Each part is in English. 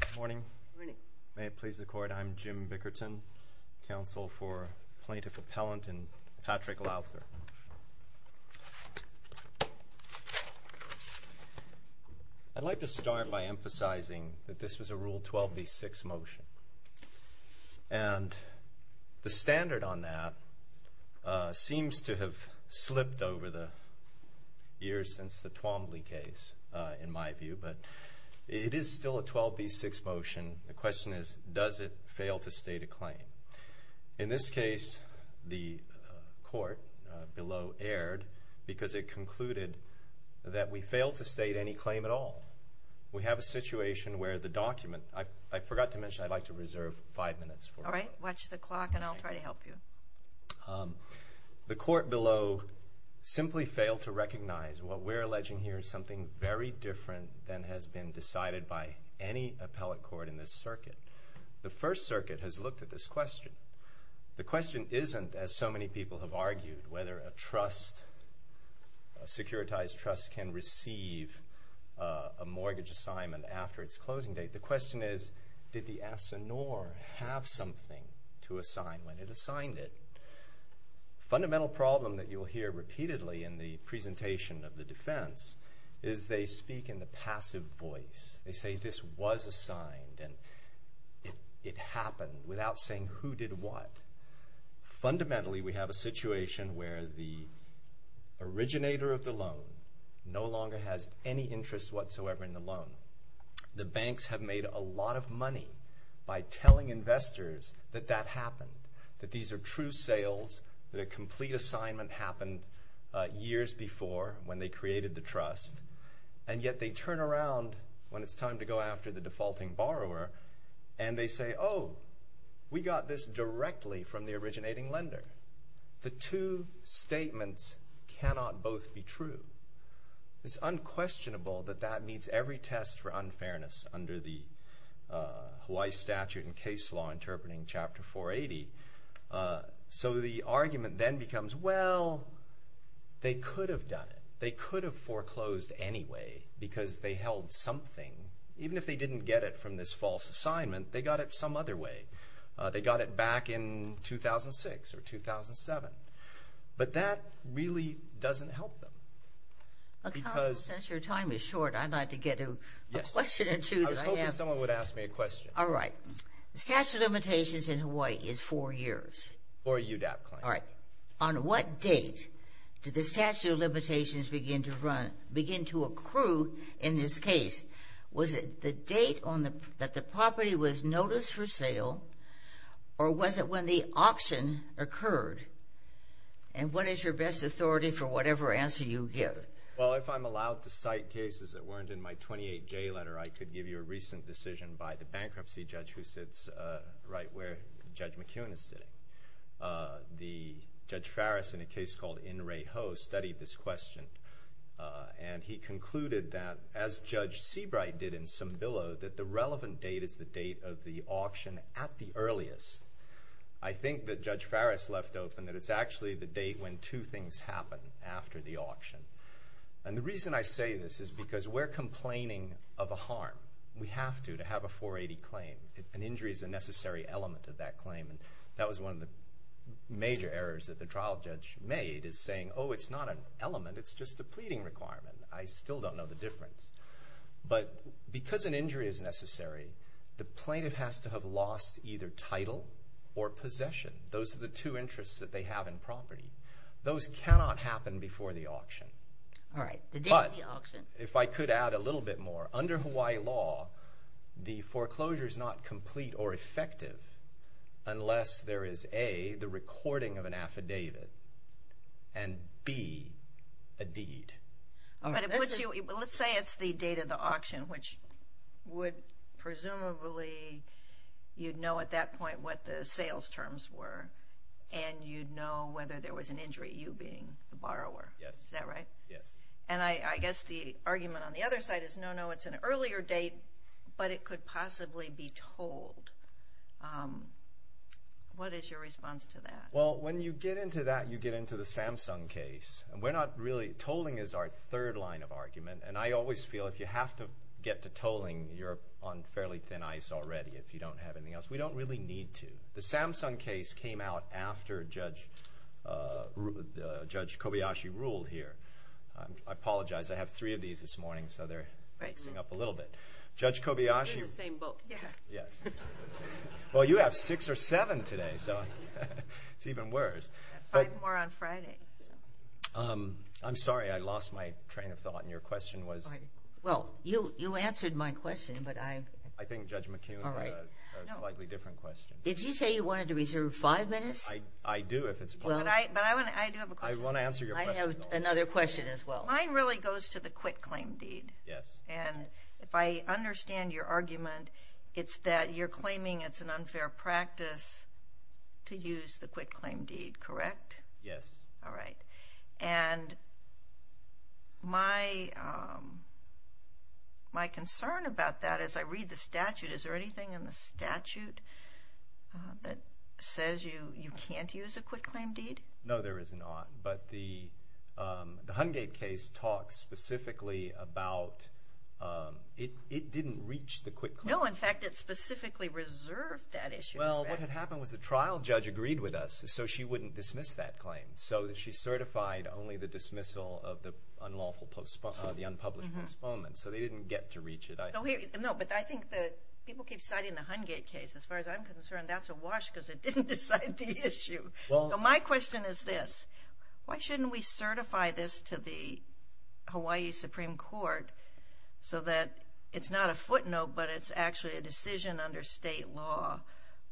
Good morning. May it please the Court, I'm Jim Bickerton, counsel for Plaintiff Appellant and Patrick Lowther. I'd like to start by emphasizing that this was a Rule 12b-6 motion. And the standard on that seems to have slipped over the years since the Twombly case, in my view, but it is still a 12b-6 motion. The question is, does it fail to state a claim? In this case, the Court below erred because it concluded that we failed to state any claim at all. We have a situation where the document, I forgot to mention I'd like to reserve five minutes for that. All right, watch the clock and I'll try to help you. The Court below simply failed to recognize what we're alleging here is something very different than has been decided by any appellate court in this circuit. The First Circuit has looked at this question. The question isn't, as so many people have argued, whether a trust, a securitized trust, can receive a mortgage assignment after its closing date. The question is, did the asinore have something to assign when it assigned it? Fundamental problem that you'll hear repeatedly in the presentation of the defense is they speak in the passive voice. They say this was assigned and it happened without saying who did what. Fundamentally, we have a situation where the originator of the loan no longer has any interest whatsoever in the loan. The banks have made a lot of money by telling investors that that happened, that these are true sales, that a complete assignment happened years before when they created the trust, and yet they turn around when it's time to go after the defaulting borrower and they say, oh, we got this directly from the originating lender. The two statements cannot both be true. It's unquestionable that that meets every test for unfairness under the Hawaii statute and case law interpreting Chapter 480. So the argument then becomes, well, they could have done it. They could have foreclosed anyway because they held something. Even if they didn't get it from this false assignment, they got it some other way. They got it back in 2006 or 2007. But that really doesn't help them. Since your time is short, I'd like to get a question or two that I have. I was hoping someone would ask me a question. All right. The statute of limitations in Hawaii is four years. Or a UDAP claim. All right. On what date did the statute of limitations begin to run, begin to accrue in this case? Was it the date that the property was noticed for sale, or was it when the auction occurred? And what is your best authority for whatever answer you give? Well, if I'm allowed to cite cases that weren't in my 28J letter, I could give you a recent decision by the bankruptcy judge who sits right where Judge McKeown is sitting. The Judge Farris, in a case called In Re Ho, studied this question. And he concluded that, as Judge Seabright did in Sembillo, that the relevant date is the date of the auction at the earliest. I think that Judge Farris left open that it's actually the date when two things happen after the auction. And the reason I say this is because we're complaining of a harm. We have to, to have a 480 claim. An injury is a necessary element of that claim. And that was one of the major errors that the trial judge made, is saying, oh, it's not an element, it's just a pleading requirement. I still don't know the difference. But because an injury is necessary, the plaintiff has to have lost either title or possession. Those are the two interests that they have in property. Those cannot happen before the auction. All right. The date of the auction. If I could add a little bit more. Under Hawaii law, the foreclosure is not complete or effective unless there is A, the recording of an affidavit, and B, a deed. Let's say it's the date of the auction, which would presumably, you'd know at that point what the sales terms were, and you'd know whether there was an injury, you being the borrower. Yes. Is that right? Yes. And I guess the argument on the other side is, no, no, it's an earlier date, but it could possibly be tolled. What is your response to that? Well, when you get into that, you get into the Samsung case. And we're not really, tolling is our third line of argument. And I always feel if you have to get to tolling, you're on fairly thin ice already if you don't have anything else. We don't really need to. The Samsung case came out after Judge Kobayashi ruled here. I apologize. I have three of these this morning, so they're mixing up a little bit. We're in the same boat. Yes. Well, you have six or seven today, so it's even worse. I have five more on Friday. I'm sorry. I lost my train of thought. And your question was? Well, you answered my question, but I... I think Judge McKeon had a slightly different question. Did you say you wanted to reserve five minutes? I do, if it's possible. But I do have a question. I want to answer your question, though. I have another question as well. Mine really goes to the quitclaim deed. Yes. And if I understand your argument, it's that you're claiming it's an unfair practice to use the quitclaim deed, correct? Yes. All right. And my concern about that, as I read the statute, is there anything in the statute that says you can't use a quitclaim deed? No, there is not. But the Hungate case talks specifically about it didn't reach the quitclaim. No, in fact, it specifically reserved that issue. Well, what had happened was the trial judge agreed with us, so she wouldn't dismiss that claim. So she certified only the dismissal of the unlawful postponement, the unpublished postponement. So they didn't get to reach it, I think. No, but I think that people keep citing the Hungate case. As far as I'm concerned, that's a wash because it didn't decide the issue. So my question is this. Why shouldn't we certify this to the Hawaii Supreme Court so that it's not a footnote, but it's actually a decision under state law,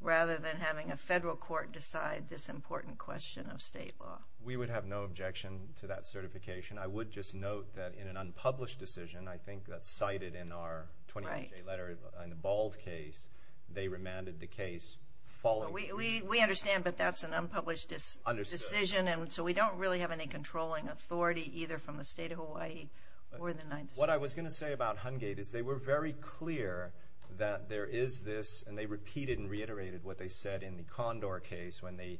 rather than having a federal court decide this important question of state law? We would have no objection to that certification. I would just note that in an unpublished decision, I think that's cited in our 28-J letter, in the Bald case, they remanded the case following. We understand, but that's an unpublished decision, and so we don't really have any controlling authority either from the state of Hawaii or the 9th Circuit. What I was going to say about Hungate is they were very clear that there is this, and they repeated and reiterated what they said in the Condor case when they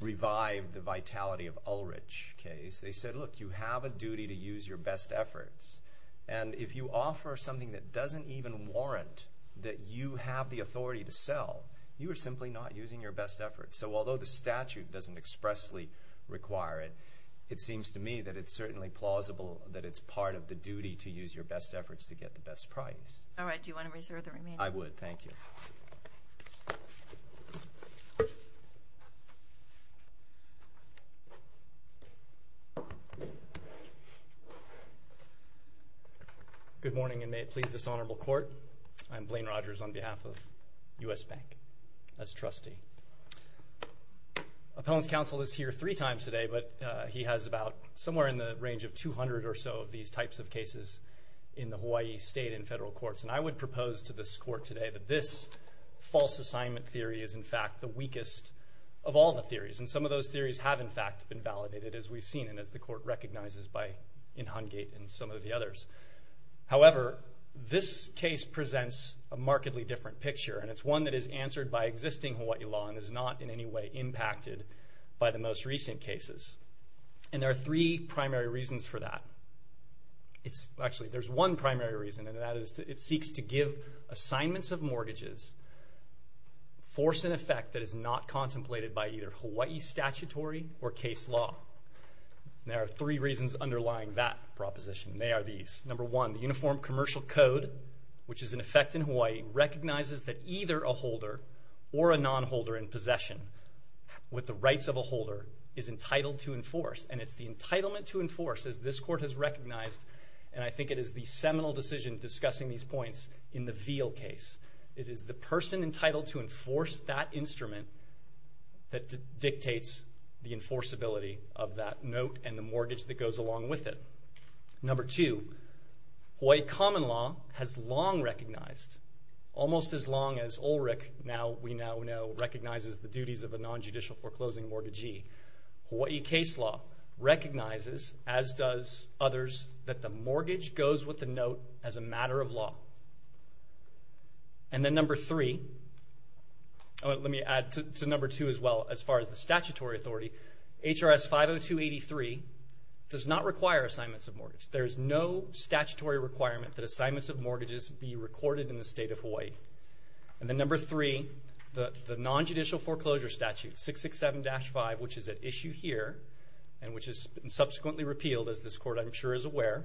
revived the Vitality of Ulrich case. They said, look, you have a duty to use your best efforts, and if you offer something that doesn't even warrant that you have the authority to sell, you are simply not using your best efforts. So although the statute doesn't expressly require it, it seems to me that it's certainly plausible that it's part of the duty to use your best efforts to get the best price. All right. Do you want to reserve the remainder? I would. Thank you. Good morning, and may it please this honorable court, I'm Blaine Rogers on behalf of U.S. Bank as trustee. Appellant's counsel is here three times today, but he has about somewhere in the range of 200 or so of these types of cases in the Hawaii state and federal courts, and I would propose to this court today that this false assignment theory is in fact the weakest of all the theories, and some of those theories have in fact been validated, as we've seen, and as the court recognizes in Hungate and some of the others. However, this case presents a markedly different picture, and it's one that is answered by existing Hawaii law and is not in any way impacted by the most recent cases, and there are three primary reasons for that. Actually, there's one primary reason, and that is it seeks to give assignments of mortgages force and effect that is not contemplated by either Hawaii statutory or case law. There are three reasons underlying that proposition, and they are these. Number one, the Uniform Commercial Code, which is in effect in Hawaii, recognizes that either a holder or a nonholder in possession with the rights of a holder is entitled to enforce, and it's the entitlement to enforce, as this court has recognized, and I think it is the seminal decision discussing these points in the Veal case. It is the person entitled to enforce that instrument that dictates the enforceability of that note and the mortgage that goes along with it. Number two, Hawaii common law has long recognized, almost as long as ULRIC now, we now know, recognizes the duties of a nonjudicial foreclosing mortgagee. Hawaii case law recognizes, as does others, that the mortgage goes with the note as a matter of law. And then number three, let me add to number two as well, as far as the statutory authority, HRS 50283 does not require assignments of mortgage. There is no statutory requirement that assignments of mortgages be recorded in the state of Hawaii. And then number three, the nonjudicial foreclosure statute, 667-5, which is at issue here, and which is subsequently repealed, as this court I'm sure is aware,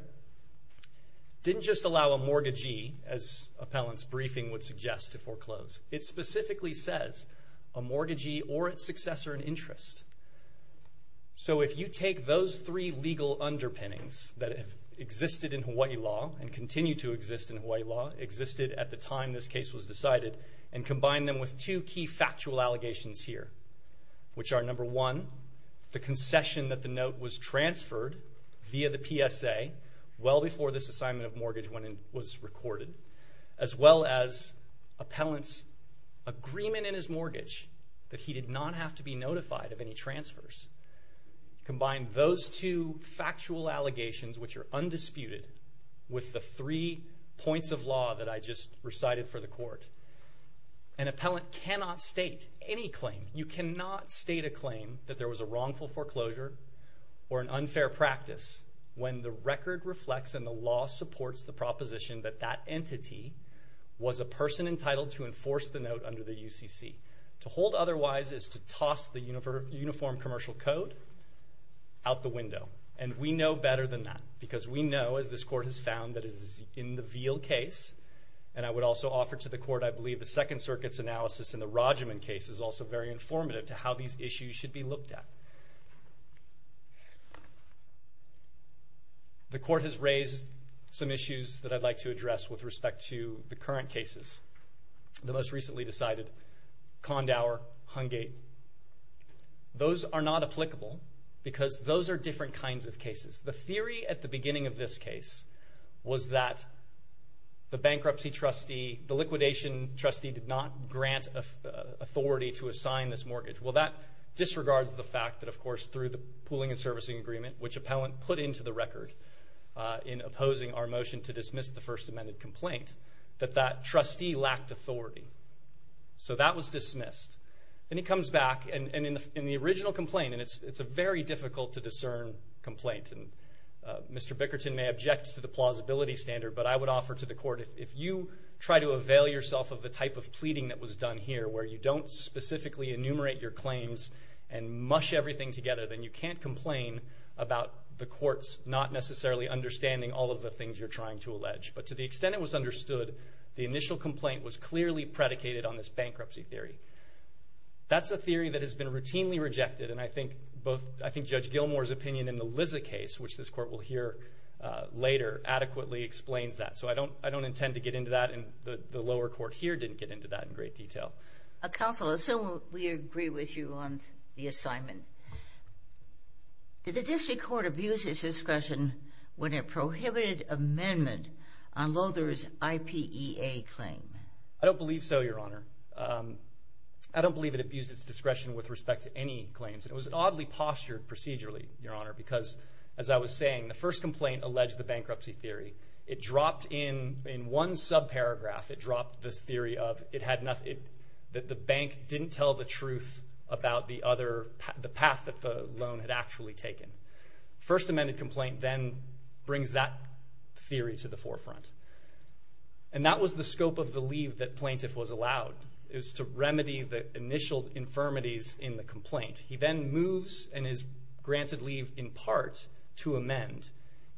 didn't just allow a mortgagee, as appellant's briefing would suggest, to foreclose. It specifically says a mortgagee or its successor in interest. So if you take those three legal underpinnings that have existed in Hawaii law and continue to exist in Hawaii law, existed at the time this case was decided, and combine them with two key factual allegations here, which are number one, the concession that the note was transferred via the PSA well before this assignment of mortgage was recorded, as well as appellant's agreement in his mortgage that he did not have to be notified of any transfers. Combine those two factual allegations, which are undisputed, with the three points of law that I just recited for the court. An appellant cannot state any claim. You cannot state a claim that there was a wrongful foreclosure or an unfair practice when the record reflects and the law supports the proposition that that entity was a person entitled to enforce the note under the UCC. To hold otherwise is to toss the uniform commercial code out the window. And we know better than that, because we know, as this court has found, that it is in the Veal case, and I would also offer to the court, I believe, the Second Circuit's analysis in the Rogiman case is also very informative to how these issues should be looked at. The court has raised some issues that I'd like to address with respect to the current cases. The most recently decided, Kondauer, Hungate, those are not applicable because those are different kinds of cases. The theory at the beginning of this case was that the bankruptcy trustee, the liquidation trustee, did not grant authority to assign this mortgage. Well, that disregards the fact that, of course, through the pooling and servicing agreement, which appellant put into the record in opposing our motion to dismiss the First Amendment complaint, that that trustee lacked authority. So that was dismissed. Then he comes back, and in the original complaint, and it's a very difficult to discern complaint, and Mr. Bickerton may object to the plausibility standard, but I would offer to the court, if you try to avail yourself of the type of pleading that was done here, where you don't specifically enumerate your claims and mush everything together, then you can't complain about the courts not necessarily understanding all of the things you're trying to allege. But to the extent it was understood, the initial complaint was clearly predicated on this bankruptcy theory. That's a theory that has been routinely rejected, and I think Judge Gilmour's opinion in the Lizza case, which this court will hear later, adequately explains that. So I don't intend to get into that, and the lower court here didn't get into that in great detail. Counsel, assuming we agree with you on the assignment, did the district court abuse its discretion when it prohibited amendment on Lother's IPEA claim? I don't believe it abused its discretion with respect to any claims. It was oddly postured procedurally, Your Honor, because, as I was saying, the first complaint alleged the bankruptcy theory. In one subparagraph, it dropped this theory that the bank didn't tell the truth about the path that the loan had actually taken. First amended complaint then brings that theory to the forefront. And that was the scope of the leave that plaintiff was allowed. It was to remedy the initial infirmities in the complaint. He then moves and is granted leave in part to amend.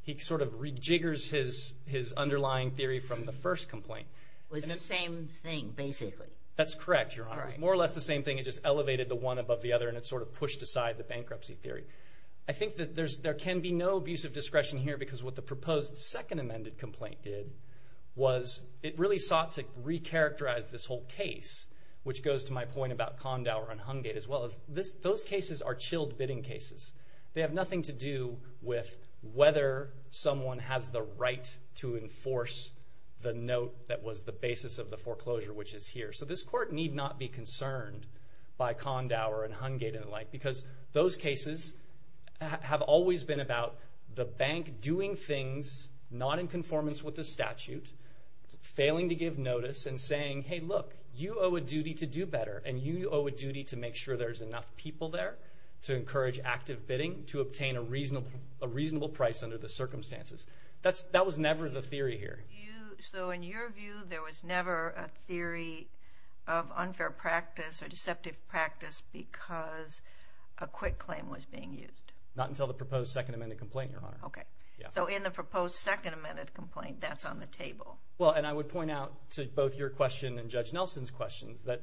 He sort of rejiggers his underlying theory from the first complaint. It was the same thing, basically. That's correct, Your Honor. It was more or less the same thing. It just elevated the one above the other, and it sort of pushed aside the bankruptcy theory. I think that there can be no abusive discretion here because what the proposed second amended complaint did was it really sought to recharacterize this whole case, which goes to my point about Kondower and Hungate, as well as those cases are chilled bidding cases. They have nothing to do with whether someone has the right to enforce the note that was the basis of the foreclosure, which is here. So this court need not be concerned by Kondower and Hungate and the like because those cases have always been about the bank doing things not in conformance with the statute, failing to give notice and saying, hey, look, you owe a duty to do better, and you owe a duty to make sure there's enough people there to encourage active bidding to obtain a reasonable price under the circumstances. That was never the theory here. So in your view, there was never a theory of unfair practice or deceptive practice because a quick claim was being used? Not until the proposed second amended complaint, Your Honor. Okay. So in the proposed second amended complaint, that's on the table. Well, and I would point out to both your question and Judge Nelson's questions that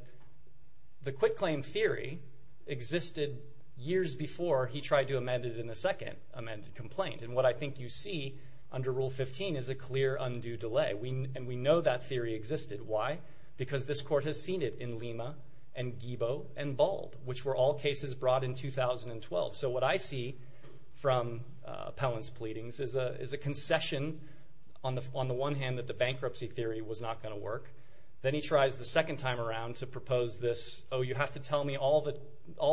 the quick claim theory existed years before he tried to amend it in the second amended complaint. And what I think you see under Rule 15 is a clear undue delay, and we know that theory existed. Why? Because this court has seen it in Lima and Guibo and Bald, which were all cases brought in 2012. So what I see from Pellin's pleadings is a concession on the one hand that the bankruptcy theory was not going to work. Then he tries the second time around to propose this, oh, you have to tell me all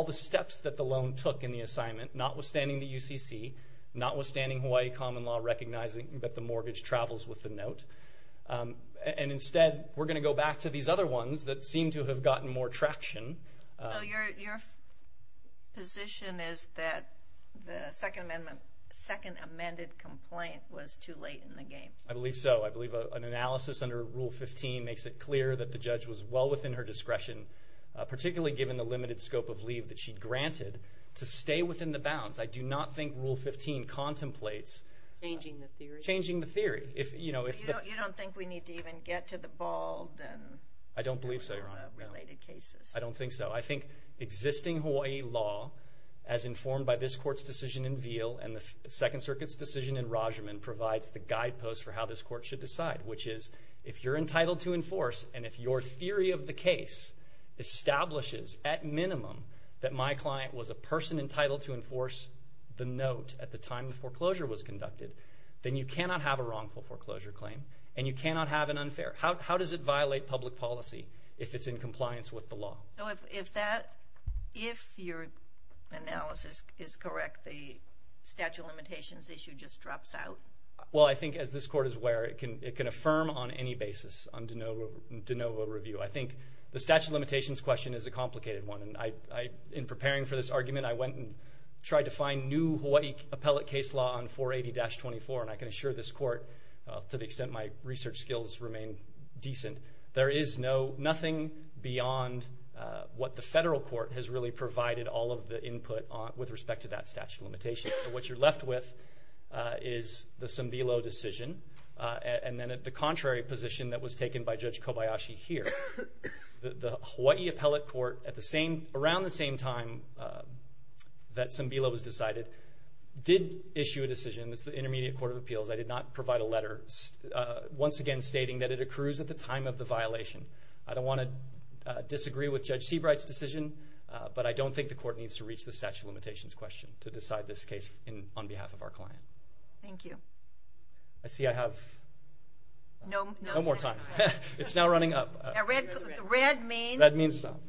the steps that the loan took in the assignment, notwithstanding the UCC, notwithstanding Hawaii common law recognizing that the mortgage travels with the note. And instead, we're going to go back to these other ones that seem to have gotten more traction. So your position is that the second amended complaint was too late in the game? I believe so. I believe an analysis under Rule 15 makes it clear that the judge was well within her discretion, particularly given the limited scope of leave that she granted, to stay within the bounds. I do not think Rule 15 contemplates changing the theory. You don't think we need to even get to the Bald and other related cases? I don't think so. I think existing Hawaii law, as informed by this court's decision in Veal and the Second Circuit's decision in Rajaman, provides the guideposts for how this court should decide, which is if you're entitled to enforce and if your theory of the case establishes, at minimum, that my client was a person entitled to enforce the note at the time the foreclosure was conducted, then you cannot have a wrongful foreclosure claim and you cannot have an unfair. How does it violate public policy if it's in compliance with the law? If your analysis is correct, the statute of limitations issue just drops out? Well, I think, as this court is aware, it can affirm on any basis on de novo review. I think the statute of limitations question is a complicated one. In preparing for this argument, I went and tried to find new Hawaii appellate case law on 480-24, and I can assure this court, to the extent my research skills remain decent, there is nothing beyond what the federal court has really provided all of the input with respect to that statute of limitations. What you're left with is the Sambilo decision, and then at the contrary position that was taken by Judge Kobayashi here, the Hawaii appellate court, around the same time that Sambilo was decided, did issue a decision. It's the Intermediate Court of Appeals. I did not provide a letter, once again, stating that it accrues at the time of the violation. I don't want to disagree with Judge Seabright's decision, but I don't think the court needs to reach the statute of limitations question to decide this case on behalf of our client. Thank you. I see I have no more time. It's now running up. Red means stop.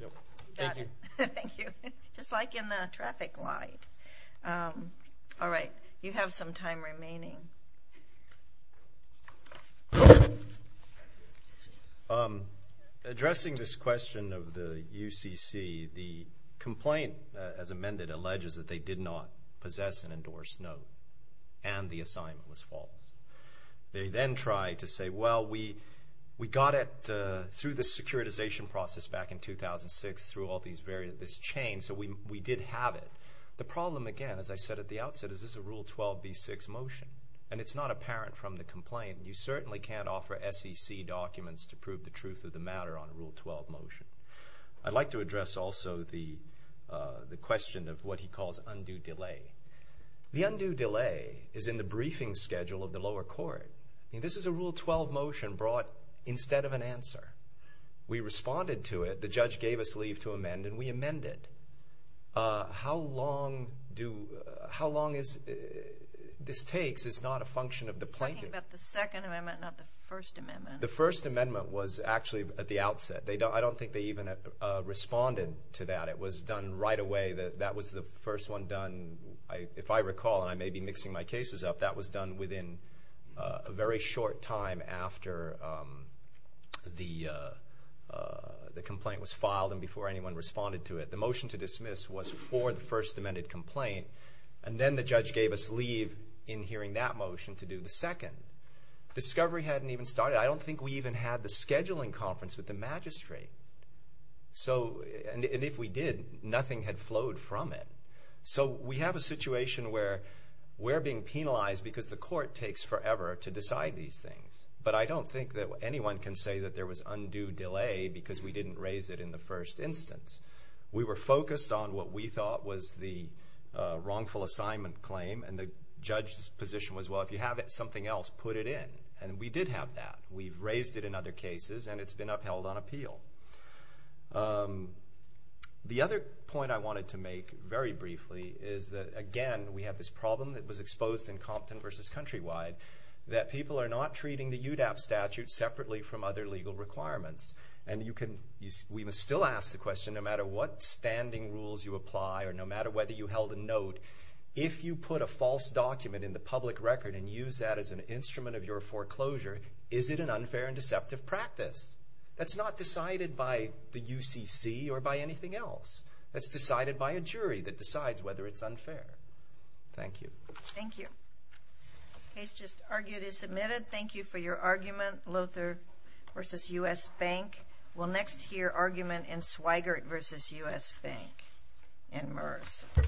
Thank you. Thank you. Just like in the traffic light. All right, you have some time remaining. Addressing this question of the UCC, the complaint, as amended, alleges that they did not possess an endorsed note and the assignment was false. They then try to say, well, we got it through the securitization process back in 2006 through all this chain, so we did have it. The problem, again, as I said at the outset, and it's not apparent from the complaint. You certainly can't offer SEC documents to prove the truth of the matter on a Rule 12 motion. I'd like to address also the question of what he calls undue delay. The undue delay is in the briefing schedule of the lower court. This is a Rule 12 motion brought instead of an answer. We responded to it. The judge gave us leave to amend, and we amended. How long this takes is not a function of the plaintiff. You're talking about the Second Amendment, not the First Amendment. The First Amendment was actually at the outset. I don't think they even responded to that. It was done right away. That was the first one done. If I recall, and I may be mixing my cases up, that was done within a very short time after the complaint was filed and before anyone responded to it. The motion to dismiss was for the First Amendment complaint, and then the judge gave us leave in hearing that motion to do the second. Discovery hadn't even started. I don't think we even had the scheduling conference with the magistrate. And if we did, nothing had flowed from it. So we have a situation where we're being penalized because the court takes forever to decide these things. But I don't think that anyone can say that there was undue delay because we didn't raise it in the first instance. We were focused on what we thought was the wrongful assignment claim, and the judge's position was, well, if you have something else, put it in. And we did have that. We've raised it in other cases, and it's been upheld on appeal. The other point I wanted to make very briefly is that, again, we have this problem that was exposed in Compton v. Countrywide that people are not treating the UDAP statute separately from other legal requirements. And we must still ask the question, no matter what standing rules you apply or no matter whether you held a note, if you put a false document in the public record and use that as an instrument of your foreclosure, is it an unfair and deceptive practice? That's not decided by the UCC or by anything else. That's decided by a jury that decides whether it's unfair. Thank you. Thank you. Case just argued is submitted. Thank you for your argument. Lothert v. U.S. Bank. We'll next hear argument in Swigert v. U.S. Bank in MERS. Thank you.